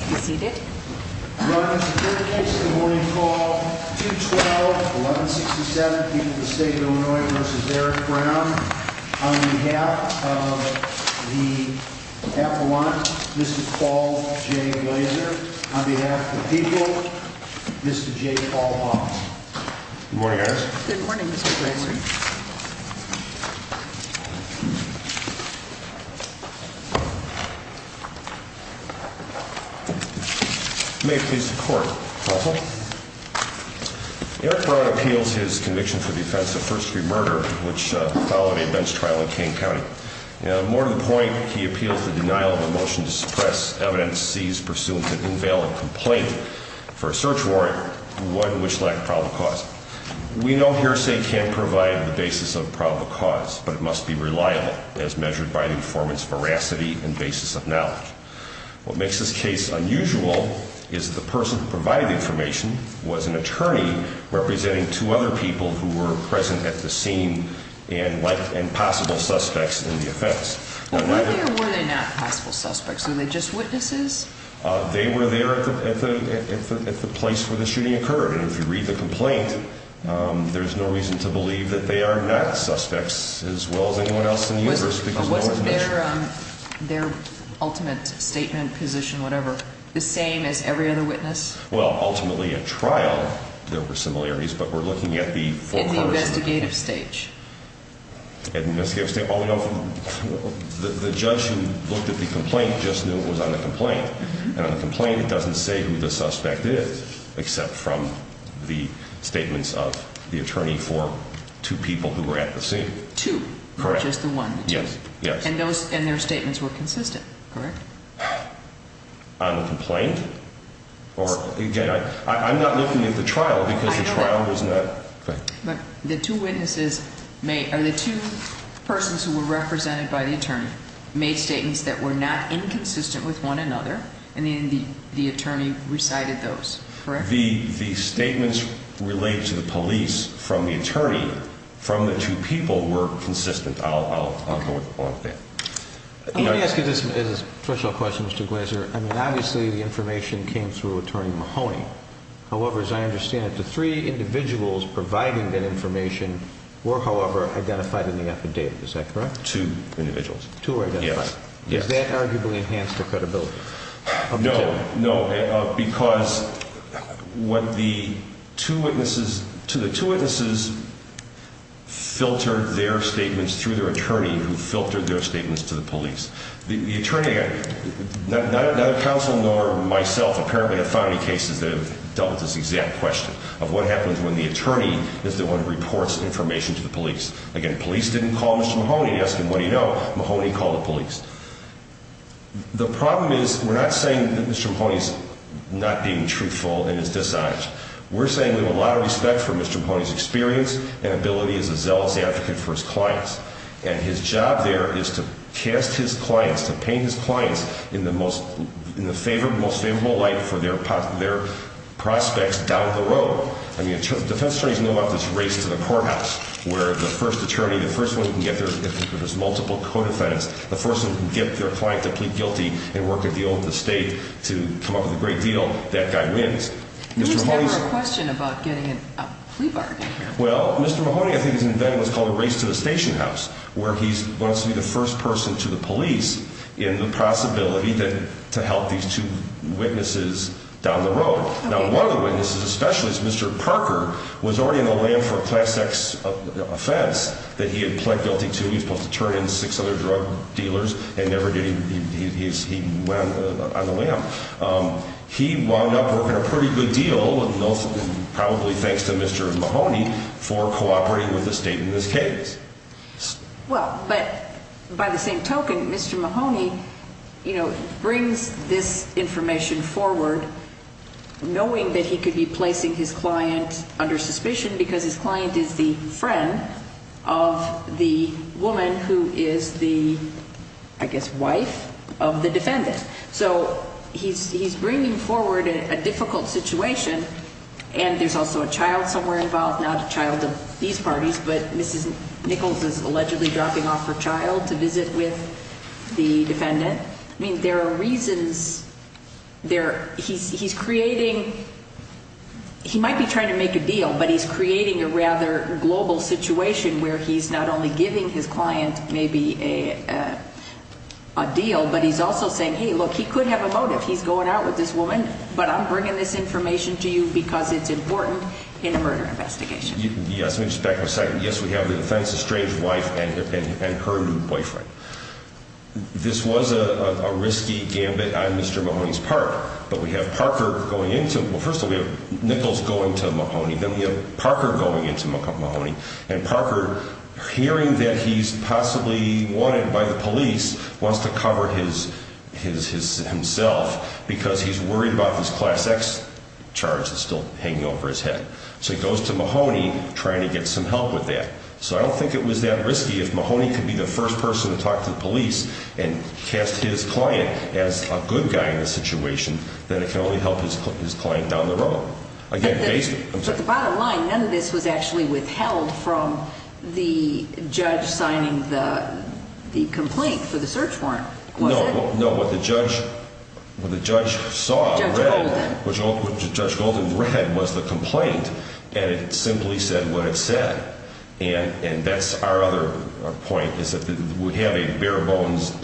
on behalf of the Appalachians, this is Paul J. Glaser, on behalf of the people, Mr. J. Paul Hoffman. Good morning, guys. Good morning, Mr. Glaser. Eric Brown appeals his conviction for the offense of first-degree murder, which followed a bench trial in Kane County. More to the point, he appeals the denial of a motion to suppress evidence seized pursuant to an invalid complaint for a search warrant, one which lacked probable cause. We know hearsay can provide the basis of probable cause, but it must be reliable, as measured by the informant's veracity and basis of knowledge. What makes this case unusual is that the person who provided the information was an attorney representing two other people who were present at the scene and possible suspects in the offense. Were they or were they not possible suspects? Were they just witnesses? They were there at the place where the shooting occurred. And if you read the complaint, there's no reason to believe that they are not suspects as well as anyone else in the universe, because no one mentioned it. Wasn't their ultimate statement, position, whatever, the same as every other witness? Well, ultimately, at trial, there were similarities, but we're looking at the full-course of the case. At the investigative stage? At the investigative stage? Well, we know from the judge who looked at the complaint just knew it was on the complaint. And on the complaint, it doesn't say who the suspect is, except from the statements of the attorney for two people who were at the scene. Two? Correct. Not just the one? Yes. Yes. And those, and their statements were consistent, correct? On the complaint? Or, again, I'm not looking at the trial, because the trial was not... I know that. But the two witnesses made, or the two persons who were represented by the attorney made statements that were not inconsistent with one another, and then the attorney recited those, correct? The statements related to the police from the attorney from the two people were consistent. I'll go with that. Okay. Let me ask you this as a threshold question, Mr. Glaser. I mean, obviously, the information came through Attorney Mahoney. However, as I understand it, the three individuals providing that information were, however, identified in the affidavit. Is that correct? Two individuals. Yes. Two were identified. Yes. Is that arguably enhanced their credibility? No. No. Because what the two witnesses, to the two witnesses, filtered their statements through their attorney, who filtered their statements to the police. The attorney, neither counsel nor myself apparently have found any cases that have dealt with this exact question of what happens when the attorney is the one who reports information to the police. Again, police didn't call Mr. Mahoney and ask him, what do you know? Mahoney called the police. The problem is, we're not saying that Mr. Mahoney's not being truthful in his dishonor. We're saying we have a lot of respect for Mr. Mahoney's experience and ability as a zealous advocate for his clients. And his job there is to cast his clients, to paint his clients in the most favorable light for their prospects down the road. I mean, defense attorneys know about this race to the courthouse, where the first attorney, the first one who can get there, if there's multiple co-defense, the first one who can get their client to plead guilty and work a deal with the state to come up with a great deal. That guy wins. There was never a question about getting a plea bargain here. Well, Mr. Mahoney, I think, has invented what's called a race to the station house, where he wants to be the first person to the police in the possibility to help these two witnesses down the road. Now, one of the witnesses, a specialist, Mr. Parker, was already on the lam for a class X offense that he had pled guilty to. He was supposed to turn in six other drug dealers and never did. He went on the lam. He wound up working a pretty good deal, and probably thanks to Mr. Mahoney for cooperating with the state in this case. Well, but by the same token, Mr. Mahoney brings this information forward knowing that he could be placing his client under suspicion because his client is the friend of the woman who is the, I guess, wife of the defendant. So he's bringing forward a difficult situation, and there's also a child somewhere involved, not a child of these parties, but Mrs. Nichols is allegedly dropping off her child to visit with the defendant. I mean, there are reasons. He's creating, he might be trying to make a deal, but he's creating a rather global situation where he's not only giving his client maybe a deal, but he's also saying, hey, look, he could have a motive. He's going out with this woman, but I'm bringing this information to you because it's important in the murder investigation. Yes. Let me just back up a second. Yes, we have the defendant's estranged wife and her new boyfriend. This was a risky gambit on Mr. Mahoney's part, but we have Parker going into, well, first of all, we have Nichols going to Mahoney, then we have Parker going into Mahoney, and Parker hearing that he's possibly wanted by the police, wants to cover himself because he's worried about this class X charge that's still hanging over his head. So he goes to Mahoney trying to get some help with that. So I don't think it was that risky. If Mahoney could be the first person to talk to the police and cast his client as a good guy in this situation, then it can only help his client down the road. Again, basically. But the bottom line, none of this was actually withheld from the judge signing the complaint for the search warrant, was it? No. No, what the judge saw, what Judge Golden read was the complaint, and it simply said what it said. And that's our other point, is that we have a bare-bones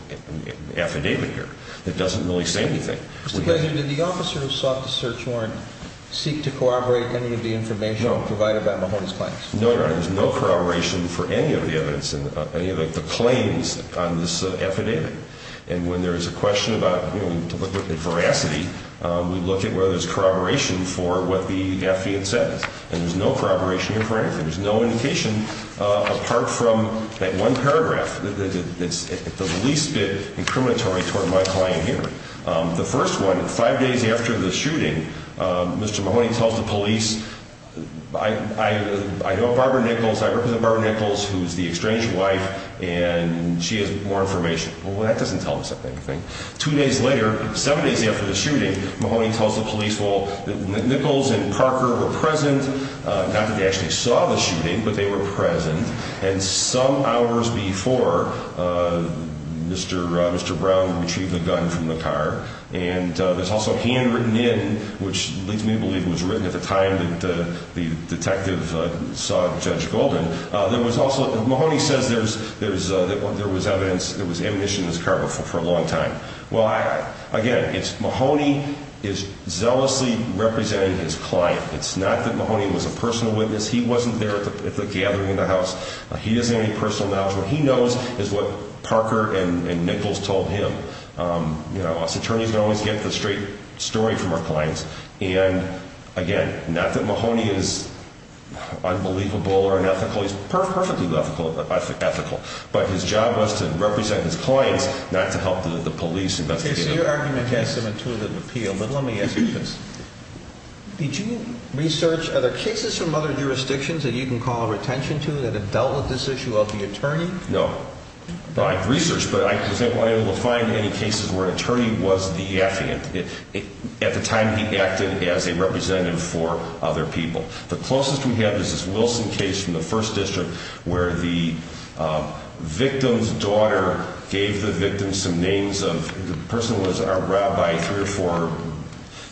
affidavit here that doesn't really say anything. Mr. Pleasure, did the officer who sought the search warrant seek to corroborate any of the information provided by Mahoney's clients? No, Your Honor. There's no corroboration for any of the evidence, any of the claims on this affidavit. And when there's a question about, you know, in veracity, we look at whether there's corroboration for what the affidavit says. And there's no corroboration here for anything. There's no indication apart from that one paragraph that's at the least bit incriminatory toward my client here. The first one, five days after the shooting, Mr. Mahoney tells the police, I know Barbara Nichols, I represent Barbara Nichols, who's the exchange wife, and she has more information. Well, that doesn't tell us anything. Two days later, seven days after the shooting, Mahoney tells the police, well, that Nichols and Parker were present, not that they actually saw the shooting, but they were present. And some hours before Mr. Brown retrieved the gun from the car, and there's also hand written in, which leads me to believe it was written at the time that the detective sought Judge Golden. There was also, Mahoney says there was evidence, there was ammunition in this car for a long time. Well, again, it's Mahoney is zealously representing his client. It's not that Mahoney was a personal witness. He wasn't there at the gathering in the house. He doesn't have any personal knowledge. What he knows is what Parker and Nichols told him. You know, us attorneys don't always get the straight story from our clients, and again, not that Mahoney is unbelievable or unethical, he's perfectly ethical, but his job was to represent his clients, not to help the police investigate him. Okay, so your argument against him in two of the appeals, but let me ask you this. Did you research, are there cases from other jurisdictions that you can call attention to that have dealt with this issue of the attorney? No. I've researched, but I wasn't able to find any cases where an attorney was the affiant. At the time, he acted as a representative for other people. The closest we have is this Wilson case from the first district where the victim's daughter gave the victim some names of, the person was a rabbi, three or four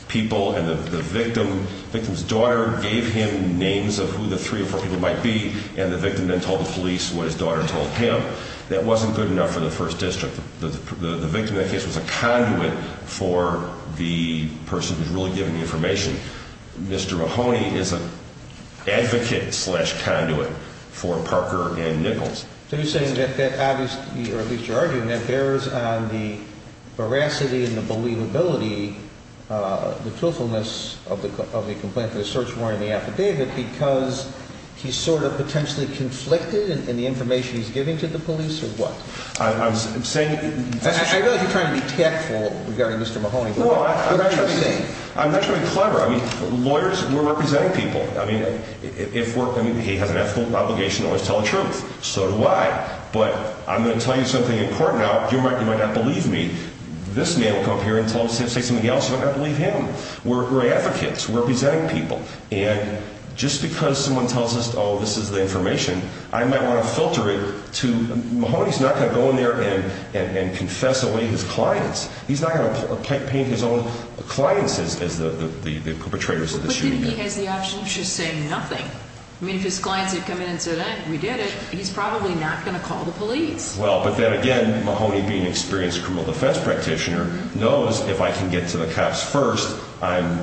people, and the victim's daughter gave him names of who the three or four people might be, and the victim then told the police what his daughter told him. That wasn't good enough for the first district. The victim in that case was a conduit for the person who's really giving the information. Mr. Mahoney is an advocate slash conduit for Parker and Nichols. So you're saying that that obviously, or at least you're arguing that bears on the veracity and the believability, the truthfulness of the complaint, the search warrant and the affidavit because he's sort of potentially conflicted in the information he's giving to the police or what? I'm saying... I realize you're trying to be tactful regarding Mr. Mahoney, but what are you saying? I'm not trying to be clever. I mean, lawyers, we're representing people. I mean, if we're, I mean, he has an ethical obligation to always tell the truth. So do I. But I'm going to tell you something important now, you might not believe me. This man will come up here and say something else, you might not believe him. We're advocates. We're presenting people. And just because someone tells us, oh, this is the information, I might want to filter it to... Mahoney's not going to go in there and confess away his clients. He's not going to paint his own clients as the perpetrators of the shooting. But then he has the option of just saying nothing. I mean, if his clients had come in and said, we did it, he's probably not going to call the police. Well, but then again, Mahoney being an experienced criminal defense practitioner knows if I can get to the cops first, I'm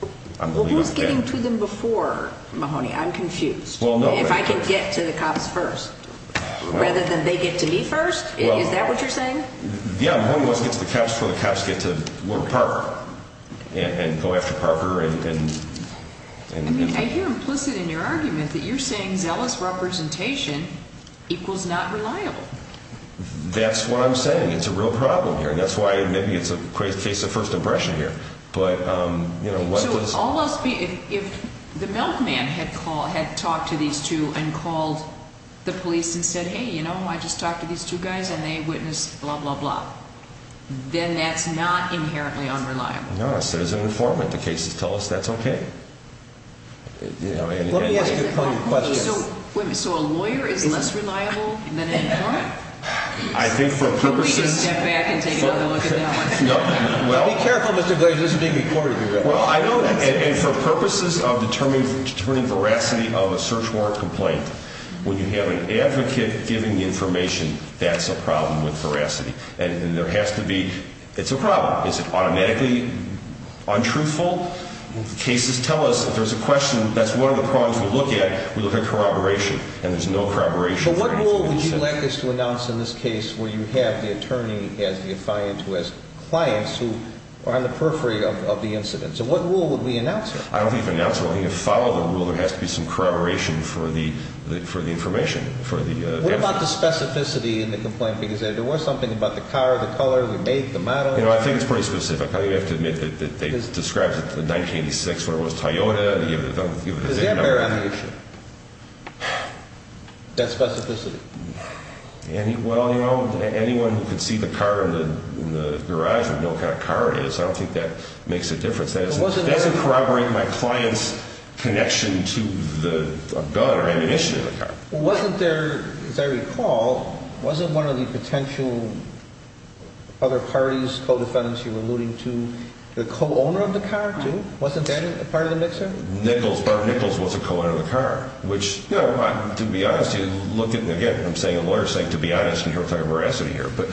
the leader of the gang. Well, who's getting to them before Mahoney? I'm confused. If I can get to the cops first, rather than they get to me first? Is that what you're saying? Yeah, Mahoney wants to get to the cops before the cops get to Parker and go after Parker. I mean, I hear implicit in your argument that you're saying zealous representation equals not reliable. That's what I'm saying. It's a real problem here. And that's why maybe it's a face of first impression here. So if the milkman had talked to these two and called the police and said, hey, you know, I just talked to these two guys and they witnessed blah, blah, blah, then that's not inherently unreliable. No, there's an informant. The cases tell us that's okay. Let me ask you a point of question. So a lawyer is less reliable than an informant? I think for purposes... Step back and take another look at that one. Be careful, Mr. Glazer. This is being recorded. And for purposes of determining veracity of a search warrant complaint, when you have an advocate giving the information, that's a problem with veracity. And there has to be... It's a problem. Is it automatically untruthful? Cases tell us if there's a question, that's one of the problems we look at. We look at corroboration. And there's no corroboration. But what rule would you like us to announce in this case where you have the attorney as the defiant who has clients who are on the periphery of the incident? So what rule would we announce here? I don't think we'd announce a rule. You follow the rule. There has to be some corroboration for the information, for the evidence. What about the specificity in the complaint? Because there was something about the car, the color, the make, the model. You know, I think it's pretty specific. I think we have to admit that they described it in 1986 when it was Toyota. Does that bear on the issue? That specificity? Well, you know, anyone who could see the car in the garage would know what kind of car it is. I don't think that makes a difference. That doesn't corroborate my client's connection to the gun or ammunition in the car. Wasn't there, as I recall, wasn't one of the potential other parties, co-defendants you were alluding to, the co-owner of the car, too? Wasn't that a part of the mixer? Barb Nichols was a co-owner of the car. Which, you know, to be honest, you look at, again, I'm saying a lawyer saying to be honest, and you're talking veracity here, but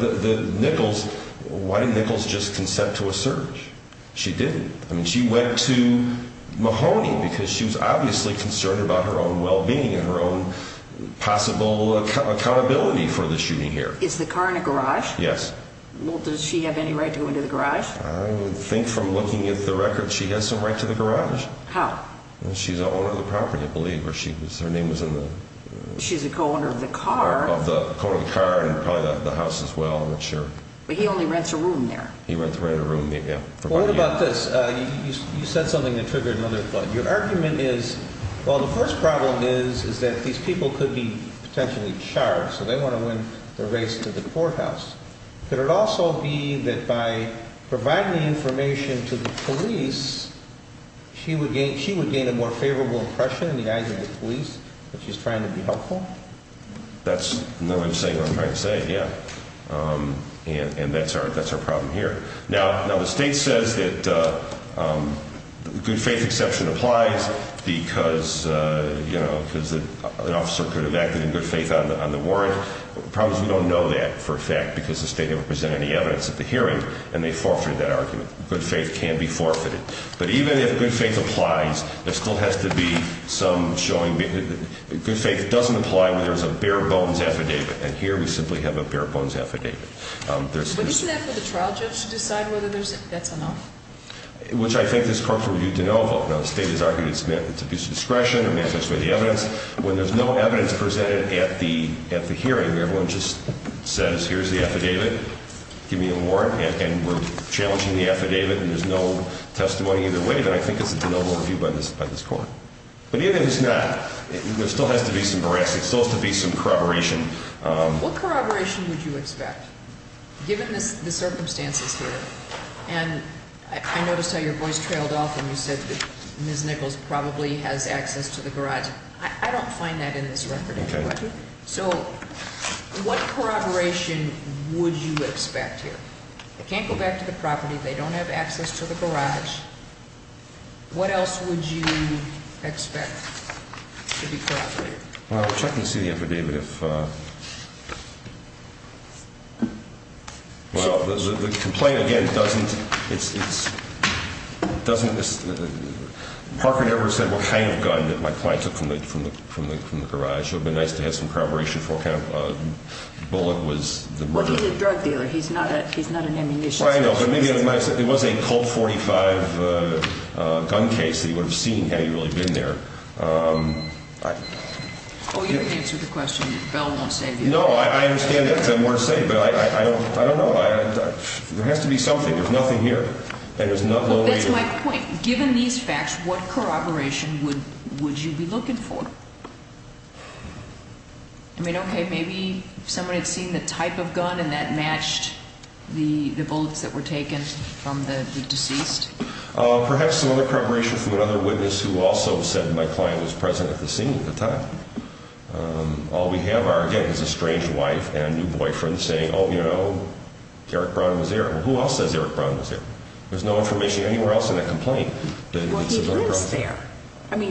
the Nichols, why did Nichols just consent to a search? She didn't. I mean, she went to Mahoney because she was obviously concerned about her own well-being and her own possible accountability for the shooting here. Is the car in a garage? Yes. Well, does she have any right to go into the garage? I would think from looking at the record, she has some right to the garage. How? She's the owner of the property, I believe, or her name was in the— She's a co-owner of the car. Co-owner of the car and probably the house as well, I'm not sure. But he only rents a room there. He rents a room, yeah. Well, what about this? You said something that triggered another thought. Your argument is, well, the first problem is that these people could be potentially charged, so they want to win the race to the courthouse. Could it also be that by providing the information to the police, she would gain a more favorable impression in the eyes of the police that she's trying to be helpful? That's not what I'm saying, what I'm trying to say, yeah. And that's our problem here. Now, the state says that good faith exception applies because, you know, an officer could have acted in good faith on the warrant. The problem is we don't know that for a fact because the state never presented any evidence at the hearing, and they forfeited that argument. Good faith can be forfeited. But even if good faith applies, there still has to be some showing. Good faith doesn't apply when there's a bare-bones affidavit, and here we simply have a bare-bones affidavit. But isn't that for the trial judge to decide whether that's enough? Which I think this court will need to know about. Now, the state has argued it's abuse of discretion, it manifests for the evidence. When there's no evidence presented at the hearing, everyone just says, here's the affidavit, give me a warrant, and we're challenging the affidavit, and there's no testimony either way, then I think it's a de novo review by this court. But even if it's not, there still has to be some barrage, there still has to be some corroboration. What corroboration would you expect, given the circumstances here? And I noticed how your voice trailed off when you said Ms. Nichols probably has access to the garage. I don't find that in this record anyway. So what corroboration would you expect here? They can't go back to the property, they don't have access to the garage. What else would you expect to be corroborated? I'll check and see the affidavit. Well, the complaint, again, doesn't ‑‑ Parker never said what kind of gun my client took from the garage. It would have been nice to have some corroboration for what kind of bullet was the murder. Well, he's a drug dealer, he's not an ammunition specialist. I know, but it was a Colt .45 gun case, he would have seen had he really been there. Oh, you didn't answer the question, the bell won't save you. No, I understand that, but I don't know. There has to be something, there's nothing here. That's my point. Given these facts, what corroboration would you be looking for? I mean, okay, maybe someone had seen the type of gun and that matched the bullets that were taken from the deceased. Perhaps some other corroboration from another witness who also said my client was present at the scene at the time. All we have, again, is a strange wife and a new boyfriend saying, oh, you know, Eric Brown was there. Well, who else says Eric Brown was there? There's no information anywhere else in the complaint. Well, he lives there. I mean,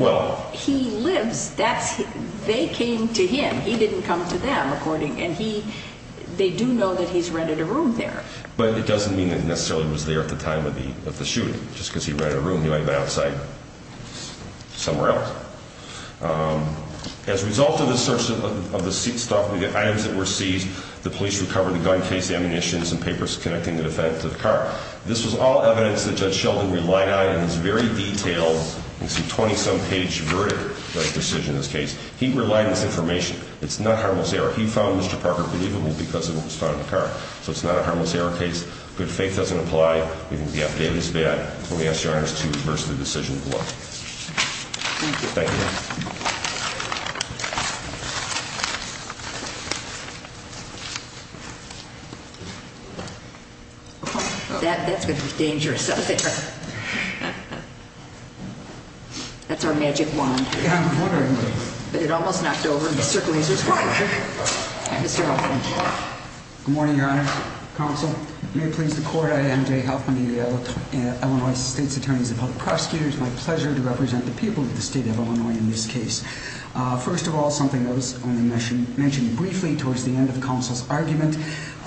he lives, they came to him, he didn't come to them, according, and they do know that he's rented a room there. But it doesn't mean that he necessarily was there at the time of the shooting. Just because he rented a room, he might have been outside somewhere else. As a result of the search of the seat stock and the items that were seized, the police recovered the gun case, the ammunitions, and papers connecting the defendant to the car. This was all evidence that Judge Sheldon relied on in his very detailed, it's a 20-some page verdict decision in this case. He relied on this information. It's not harmless error. He found Mr. Parker believable because of what was found in the car. So it's not a harmless error case. Good faith doesn't apply. We think the affidavit is bad. We ask your honors to reverse the decision. Thank you. Thank you. That's going to be dangerous out there. That's our magic wand. Yeah, I'm wondering. But it almost knocked over Mr. Glazer's car. Good morning, your honor. Counsel. May it please the court. I am Jay Hoffman, the Illinois state's attorney as a public prosecutor. It's my pleasure to represent the people of the state of Illinois in this case. First of all, something I was going to mention briefly towards the end of the counsel's argument.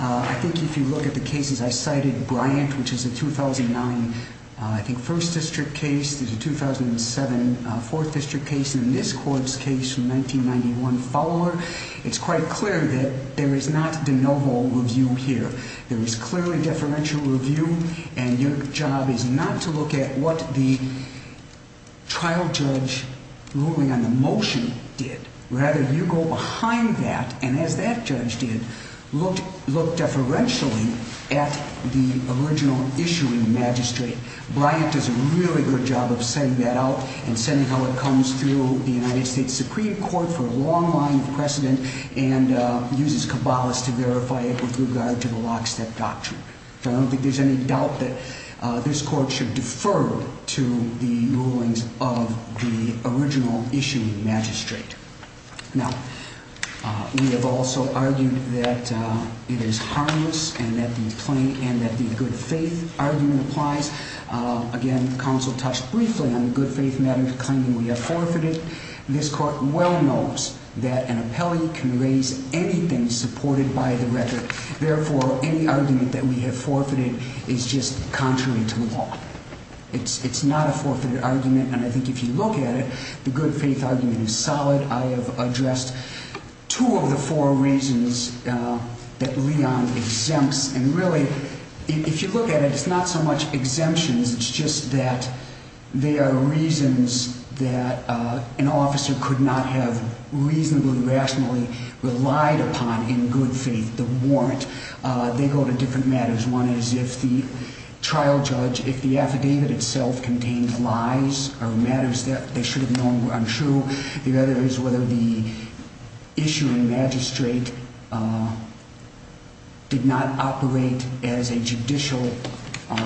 I think if you look at the cases I cited, Bryant, which is a 2009, I think, first district case. There's a 2007 fourth district case. And in this court's case from 1991 Fowler, it's quite clear that there is not de novo review here. There is clearly deferential review. And your job is not to look at what the trial judge ruling on the motion did. Rather, you go behind that and, as that judge did, look deferentially at the original issue in the magistrate. Bryant does a really good job of setting that out and setting how it comes through the United States Supreme Court for a long line of precedent. And uses Cabalas to verify it with regard to the lockstep doctrine. So I don't think there's any doubt that this court should defer to the rulings of the original issue in the magistrate. Now, we have also argued that it is harmless and that the good faith argument applies. Again, counsel touched briefly on the good faith matter claiming we have forfeited. This court well knows that an appellee can raise anything supported by the record. Therefore, any argument that we have forfeited is just contrary to law. It's not a forfeited argument. And I think if you look at it, the good faith argument is solid. I have addressed two of the four reasons that Leon exempts. And really, if you look at it, it's not so much exemptions. It's just that they are reasons that an officer could not have reasonably, rationally relied upon in good faith. The warrant. They go to different matters. One is if the trial judge, if the affidavit itself contained lies or matters that they should have known were untrue. The other is whether the issue in magistrate did not operate as a judicial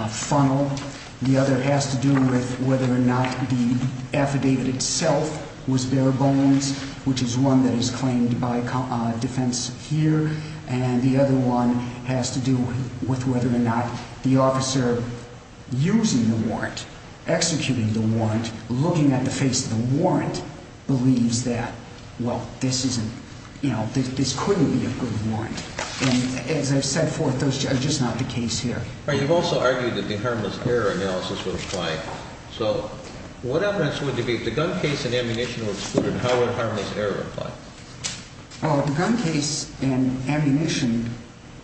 funnel. The other has to do with whether or not the affidavit itself was bare bones, which is one that is claimed by defense here. And the other one has to do with whether or not the officer using the warrant, executing the warrant, looking at the face of the warrant, believes that, well, this isn't, you know, this couldn't be a good warrant. And as I've said forth, those are just not the case here. You've also argued that the harmless error analysis would apply. So what evidence would you be, if the gun case and ammunition were excluded, how would harmless error apply? The gun case and ammunition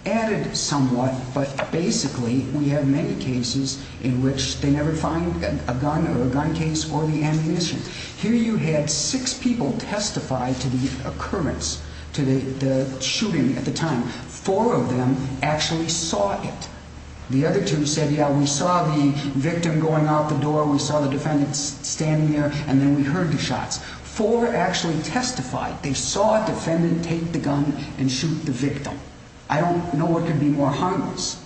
added somewhat, but basically we have many cases in which they never find a gun or a gun case or the ammunition. Here you had six people testify to the occurrence, to the shooting at the time. Four of them actually saw it. The other two said, yeah, we saw the victim going out the door, we saw the defendant standing there, and then we heard the shots. Four actually testified. They saw a defendant take the gun and shoot the victim. I don't know what could be more harmless.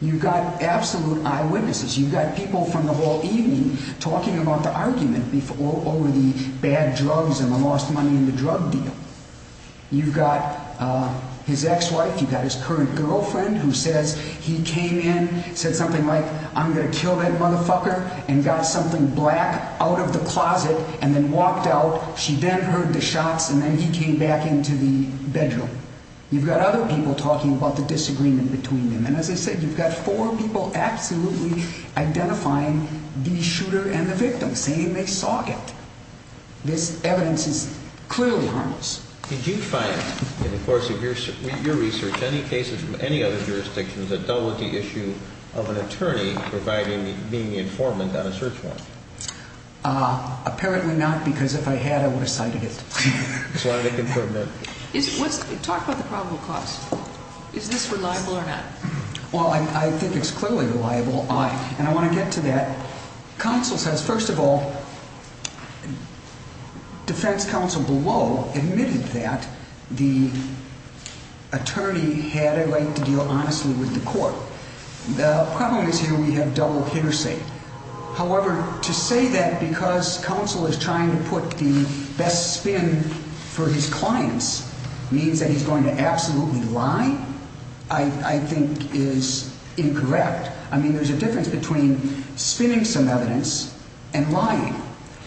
You've got absolute eyewitnesses. You've got people from the whole evening talking about the argument over the bad drugs and the lost money in the drug deal. You've got his ex-wife, you've got his current girlfriend, who says he came in, said something like, I'm going to kill that motherfucker, and got something black out of the closet, and then walked out. She then heard the shots, and then he came back into the bedroom. You've got other people talking about the disagreement between them. And as I said, you've got four people absolutely identifying the shooter and the victim, saying they saw it. This evidence is clearly harmless. Did you find in the course of your research any cases from any other jurisdictions that dealt with the issue of an attorney being the informant on a search warrant? Apparently not, because if I had, I would have cited it. Talk about the probable cause. Is this reliable or not? Well, I think it's clearly reliable, and I want to get to that. Counsel says, first of all, defense counsel below admitted that the attorney had a right to deal honestly with the court. The problem is here we have double hearsay. However, to say that because counsel is trying to put the best spin for his clients means that he's going to absolutely lie, I think is incorrect. I mean, there's a difference between spinning some evidence and lying.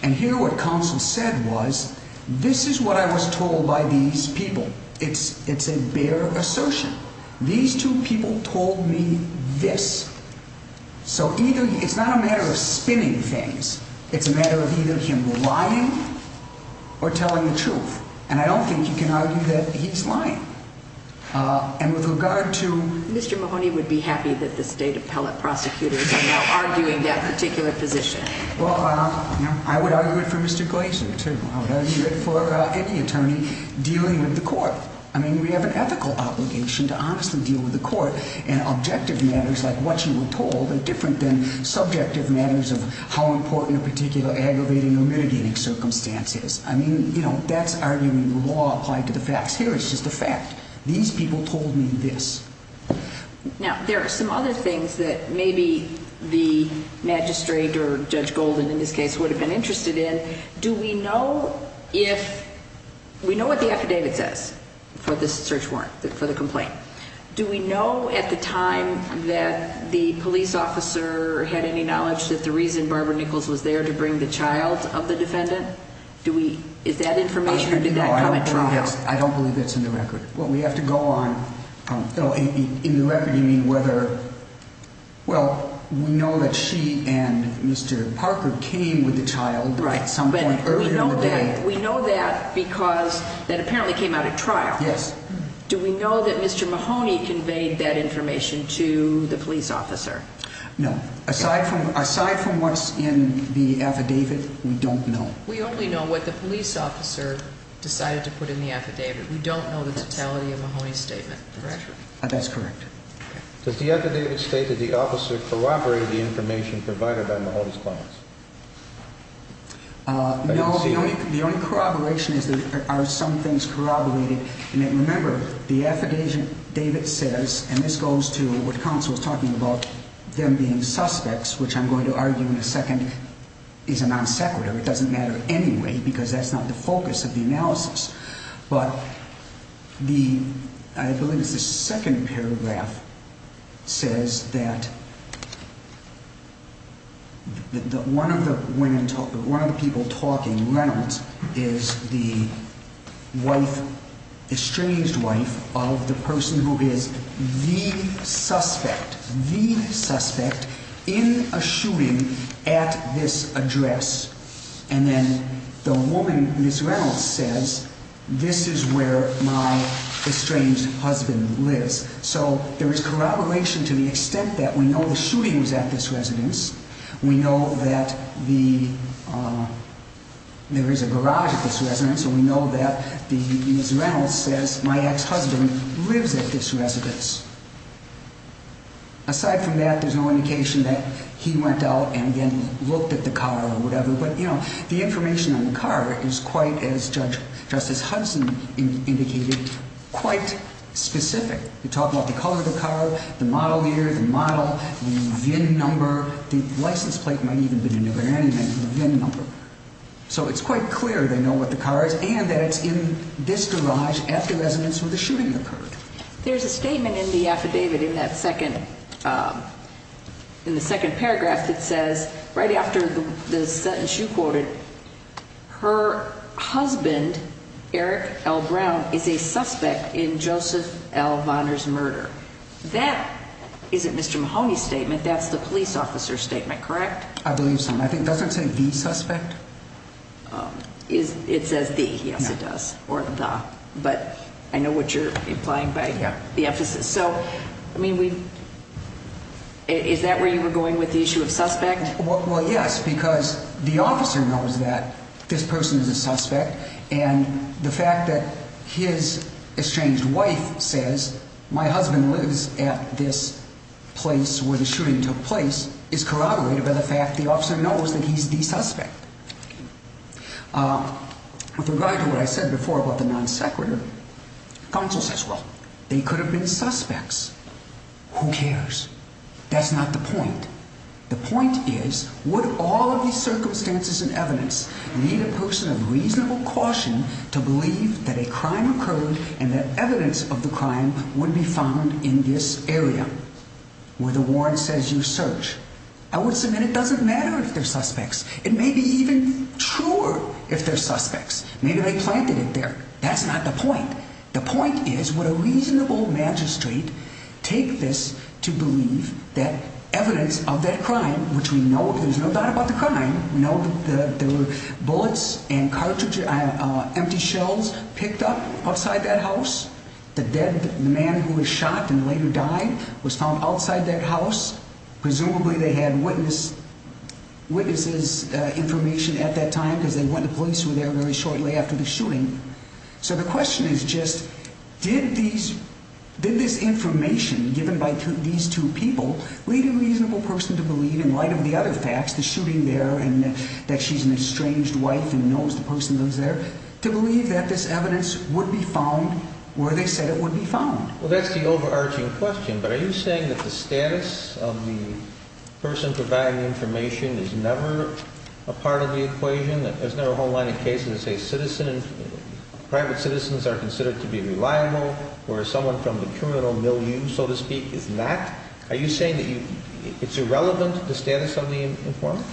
And here what counsel said was, this is what I was told by these people. It's a bare assertion. These two people told me this. So it's not a matter of spinning things. It's a matter of either him lying or telling the truth. And I don't think you can argue that he's lying. And with regard to- Mr. Mahoney would be happy that the state appellate prosecutors are now arguing that particular position. Well, I would argue it for Mr. Glaser, too. I would argue it for any attorney dealing with the court. I mean, we have an ethical obligation to honestly deal with the court. And objective matters like what you were told are different than subjective matters of how important a particular aggravating or mitigating circumstance is. I mean, that's arguing the law applied to the facts. Here it's just a fact. These people told me this. Now, there are some other things that maybe the magistrate or Judge Golden, in this case, would have been interested in. Do we know if-we know what the affidavit says for this search warrant, for the complaint. Do we know at the time that the police officer had any knowledge that the reason Barbara Nichols was there to bring the child of the defendant? Do we-is that information or did that come at trial? I don't believe it's in the record. Well, we have to go on. In the record, you mean whether-well, we know that she and Mr. Parker came with the child at some point earlier in the day. We know that because that apparently came at a trial. Yes. Do we know that Mr. Mahoney conveyed that information to the police officer? No. Aside from what's in the affidavit, we don't know. We only know what the police officer decided to put in the affidavit. We don't know the totality of Mahoney's statement, correct? That's correct. Does the affidavit state that the officer corroborated the information provided by Mahoney's clients? No, the only corroboration is that there are some things corroborated. And remember, the affidavit says, and this goes to what counsel was talking about, them being suspects, which I'm going to argue in a second is a non-sequitur. It doesn't matter anyway because that's not the focus of the analysis. But the, I believe it's the second paragraph, says that one of the people talking, Reynolds, is the wife, estranged wife of the person who is the suspect, the suspect in a shooting at this address. And then the woman, Ms. Reynolds, says, this is where my estranged husband lives. So there is corroboration to the extent that we know the shooting was at this residence, we know that there is a garage at this residence, and we know that Ms. Reynolds says my ex-husband lives at this residence. Aside from that, there's no indication that he went out and, again, looked at the car or whatever. But, you know, the information on the car is quite, as Judge, Justice Hudson indicated, quite specific. You're talking about the color of the car, the model year, the model, the VIN number, the license plate might even have been a different VIN number. So it's quite clear they know what the car is and that it's in this garage at the residence where the shooting occurred. There's a statement in the affidavit in that second, in the second paragraph that says, right after the sentence you quoted, her husband, Eric L. Brown, is a suspect in Joseph L. Vonner's murder. That isn't Mr. Mahoney's statement. That's the police officer's statement, correct? I believe so. And I think, does it say the suspect? It says the. Yes, it does. But I know what you're implying by the emphasis. So, I mean, is that where you were going with the issue of suspect? Well, yes, because the officer knows that this person is a suspect. And the fact that his estranged wife says my husband lives at this place where the shooting took place is corroborated by the fact the officer knows that he's the suspect. With regard to what I said before about the non sequitur, counsel says, well, they could have been suspects. Who cares? That's not the point. The point is, would all of these circumstances and evidence need a person of reasonable caution to believe that a crime occurred and that evidence of the crime would be found in this area where the warrant says you search? I would submit it doesn't matter if they're suspects. It may be even truer if they're suspects. Maybe they planted it there. That's not the point. The point is what a reasonable magistrate take this to believe that evidence of that crime, which we know there's no doubt about the crime. Bullets and cartridges, empty shells picked up outside that house. The dead man who was shot and later died was found outside that house. Presumably they had witness witnesses information at that time because they went to police were there very shortly after the shooting. So the question is just did these did this information given by these two people lead a reasonable person to believe in light of the other facts, the shooting there and that she's an estranged wife and knows the person lives there to believe that this evidence would be found where they said it would be found. Well, that's the overarching question. But are you saying that the status of the person providing information is never a part of the equation? There's never a whole line of cases. It's a citizen. Private citizens are considered to be reliable, where someone from the criminal milieu, so to speak, is not. Are you saying that it's irrelevant to the status of the informant?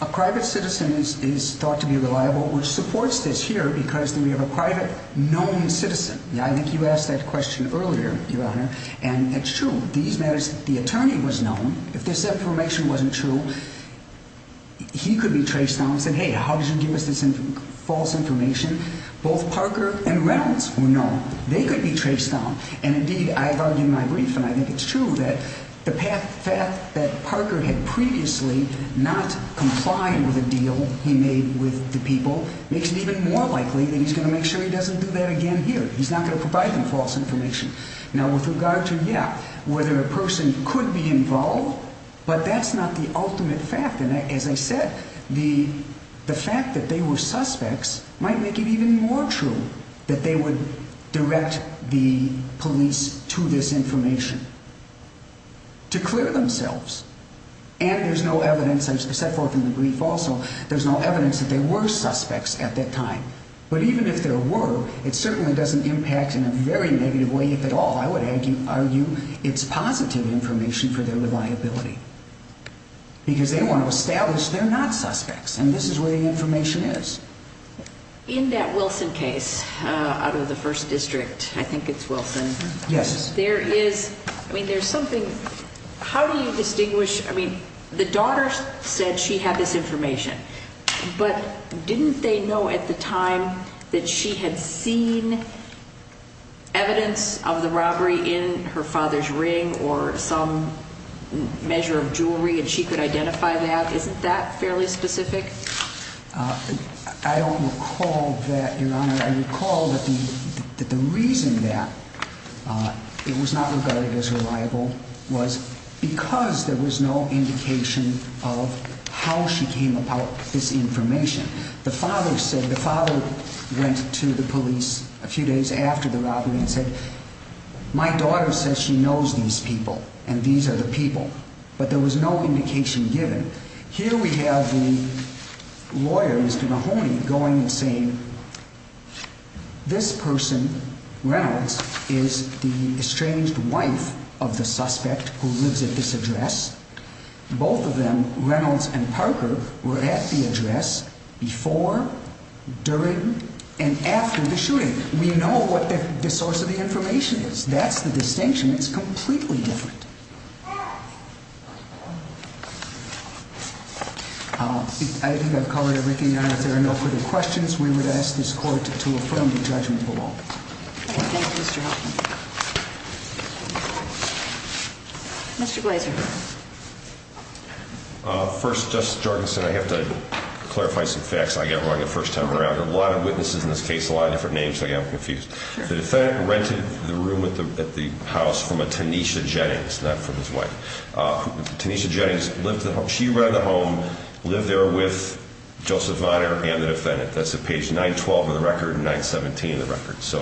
A private citizen is thought to be reliable, which supports this here because we have a private known citizen. I think you asked that question earlier, Your Honor. And it's true. These matters. The attorney was known. If this information wasn't true, he could be traced down and said, hey, how did you give us this false information? Both Parker and Reynolds were known. They could be traced down. And indeed, I've argued my brief. And I think it's true that the path that Parker had previously not complying with a deal he made with the people makes it even more likely that he's going to make sure he doesn't do that again. He's not going to provide them false information. Now, with regard to, yeah, whether a person could be involved, but that's not the ultimate fact. And as I said, the fact that they were suspects might make it even more true that they would direct the police to this information to clear themselves. And there's no evidence, as I set forth in the brief also, there's no evidence that they were suspects at that time. But even if there were, it certainly doesn't impact in a very negative way, if at all, I would argue, it's positive information for their reliability. Because they want to establish they're not suspects. And this is where the information is. In that Wilson case out of the first district, I think it's Wilson. Yes. There is, I mean, there's something, how do you distinguish, I mean, the daughter said she had this information. But didn't they know at the time that she had seen evidence of the robbery in her father's ring or some measure of jewelry and she could identify that? Isn't that fairly specific? I don't recall that, Your Honor. I recall that the reason that it was not regarded as reliable was because there was no indication of how she came about this information. The father said, the father went to the police a few days after the robbery and said, my daughter says she knows these people and these are the people. But there was no indication given. Here we have the lawyer, Mr. Mahoney, going and saying, this person, Reynolds, is the estranged wife of the suspect who lives at this address. Both of them, Reynolds and Parker, were at the address before, during, and after the shooting. We know what the source of the information is. That's the distinction. It's completely different. I think I've covered everything, Your Honor. If there are no further questions, we would ask this court to affirm the judgment of the law. Thank you, Mr. Hoffman. Mr. Glazer. First, Justice Jorgensen, I have to clarify some facts. I got wrong the first time around. A lot of witnesses in this case, a lot of different names, so I got confused. The defendant rented the room at the house from a Tanisha Jennings, not from his wife. Tanisha Jennings, she rented the home, lived there with Joseph Vonner and the defendant. That's at page 912 of the record and 917 of the record. So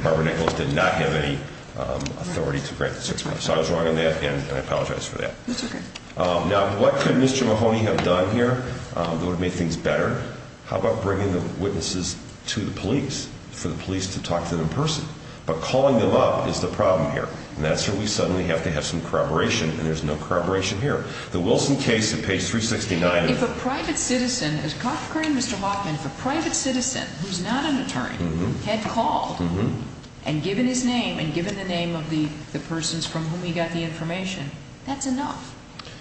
Barbara Nichols did not have any authority to rent the six months. So I was wrong on that and I apologize for that. That's okay. Now, what could Mr. Mahoney have done here that would have made things better? How about bringing the witnesses to the police for the police to talk to them in person? But calling them up is the problem here. And that's where we suddenly have to have some corroboration, and there's no corroboration here. The Wilson case at page 369. If a private citizen, as caught occurring, Mr. Hoffman, if a private citizen who's not an attorney had called and given his name and given the name of the persons from whom he got the information, that's enough.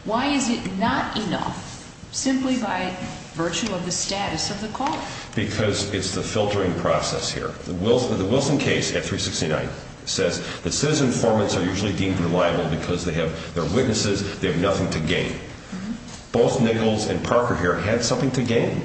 Why is it not enough simply by virtue of the status of the caller? Because it's the filtering process here. The Wilson case at 369 says that citizen informants are usually deemed reliable because they have their witnesses. They have nothing to gain. Both Nichols and Parker here had something to gain,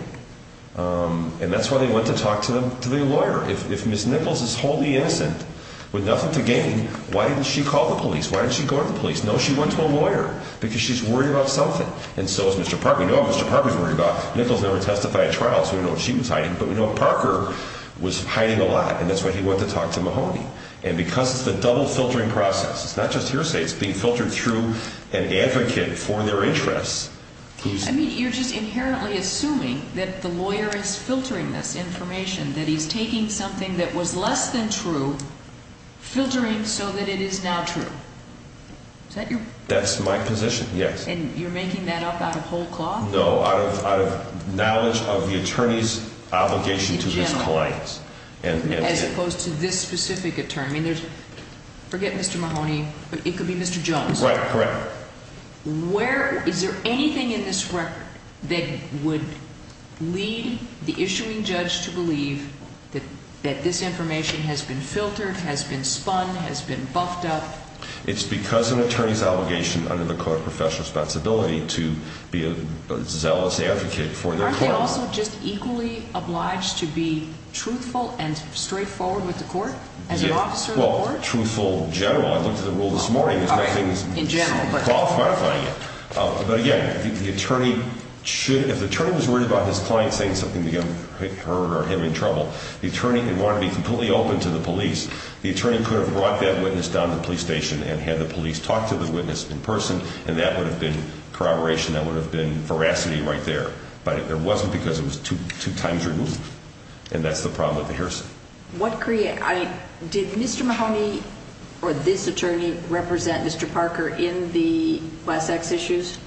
and that's why they went to talk to their lawyer. If Ms. Nichols is wholly innocent with nothing to gain, why didn't she call the police? Why didn't she go to the police? No, she went to a lawyer because she's worried about something. And so is Mr. Parker. We know what Mr. Parker's worried about. Nichols never testified at trial, so we know what she was hiding. But we know Parker was hiding a lot, and that's why he went to talk to Mahoney. And because it's the double filtering process, it's not just hearsay. It's being filtered through an advocate for their interests. I mean, you're just inherently assuming that the lawyer is filtering this information, that he's taking something that was less than true, filtering so that it is now true. Is that your... That's my position, yes. And you're making that up out of whole cloth? No, out of knowledge of the attorney's obligation to his clients. As opposed to this specific attorney. Forget Mr. Mahoney. It could be Mr. Jones. Right, correct. Is there anything in this record that would lead the issuing judge to believe that this information has been filtered, has been spun, has been buffed up? It's because of an attorney's obligation under the Code of Professional Responsibility to be a zealous advocate for their court. Aren't they also just equally obliged to be truthful and straightforward with the court? As an officer of the court? Well, truthful, general. I looked at the rule this morning. In general, but... Qualifying it. But again, the attorney should... If the attorney was worried about his client saying something to him or her or him in trouble, the attorney would want to be completely open to the police. The attorney could have brought that witness down to the police station and had the police talk to the witness in person, and that would have been corroboration. That would have been veracity right there. But it wasn't because it was two times removed. And that's the problem with the hearsay. Did Mr. Mahoney or this attorney represent Mr. Parker in the last sex issues?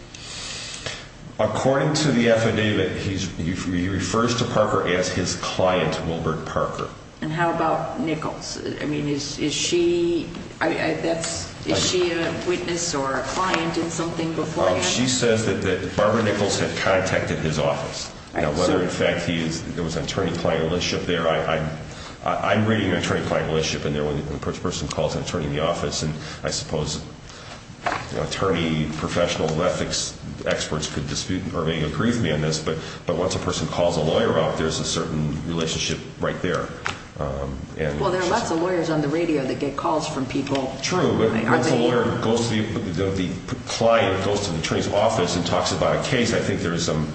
According to the affidavit, he refers to Parker as his client, Wilbert Parker. And how about Nichols? I mean, is she a witness or a client in something before that? She says that Barbara Nichols had contacted his office. Now, whether, in fact, there was an attorney-client relationship there, I'm reading an attorney-client relationship in there when a person calls an attorney in the office, and I suppose attorney professional ethics experts could dispute or may agree with me on this, but once a person calls a lawyer up, there's a certain relationship right there. Well, there are lots of lawyers on the radio that get calls from people. True, but once a lawyer goes to the client, goes to the attorney's office and talks about a case, I think there is some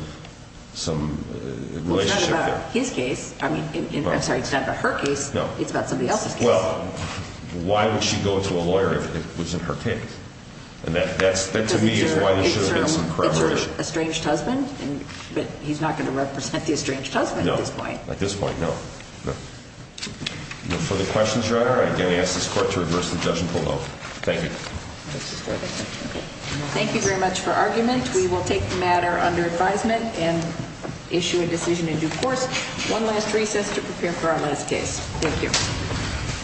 relationship there. Well, it's not about his case. I'm sorry, it's not about her case. It's about somebody else's case. Well, why would she go to a lawyer if it wasn't her case? And that, to me, is why there should have been some corroboration. But he's not going to represent the estranged husband at this point. No, at this point, no. No further questions, Your Honor? I again ask this Court to reverse the judgment below. Thank you. Thank you very much for argument. We will take the matter under advisement and issue a decision in due course. One last recess to prepare for our last case. Thank you.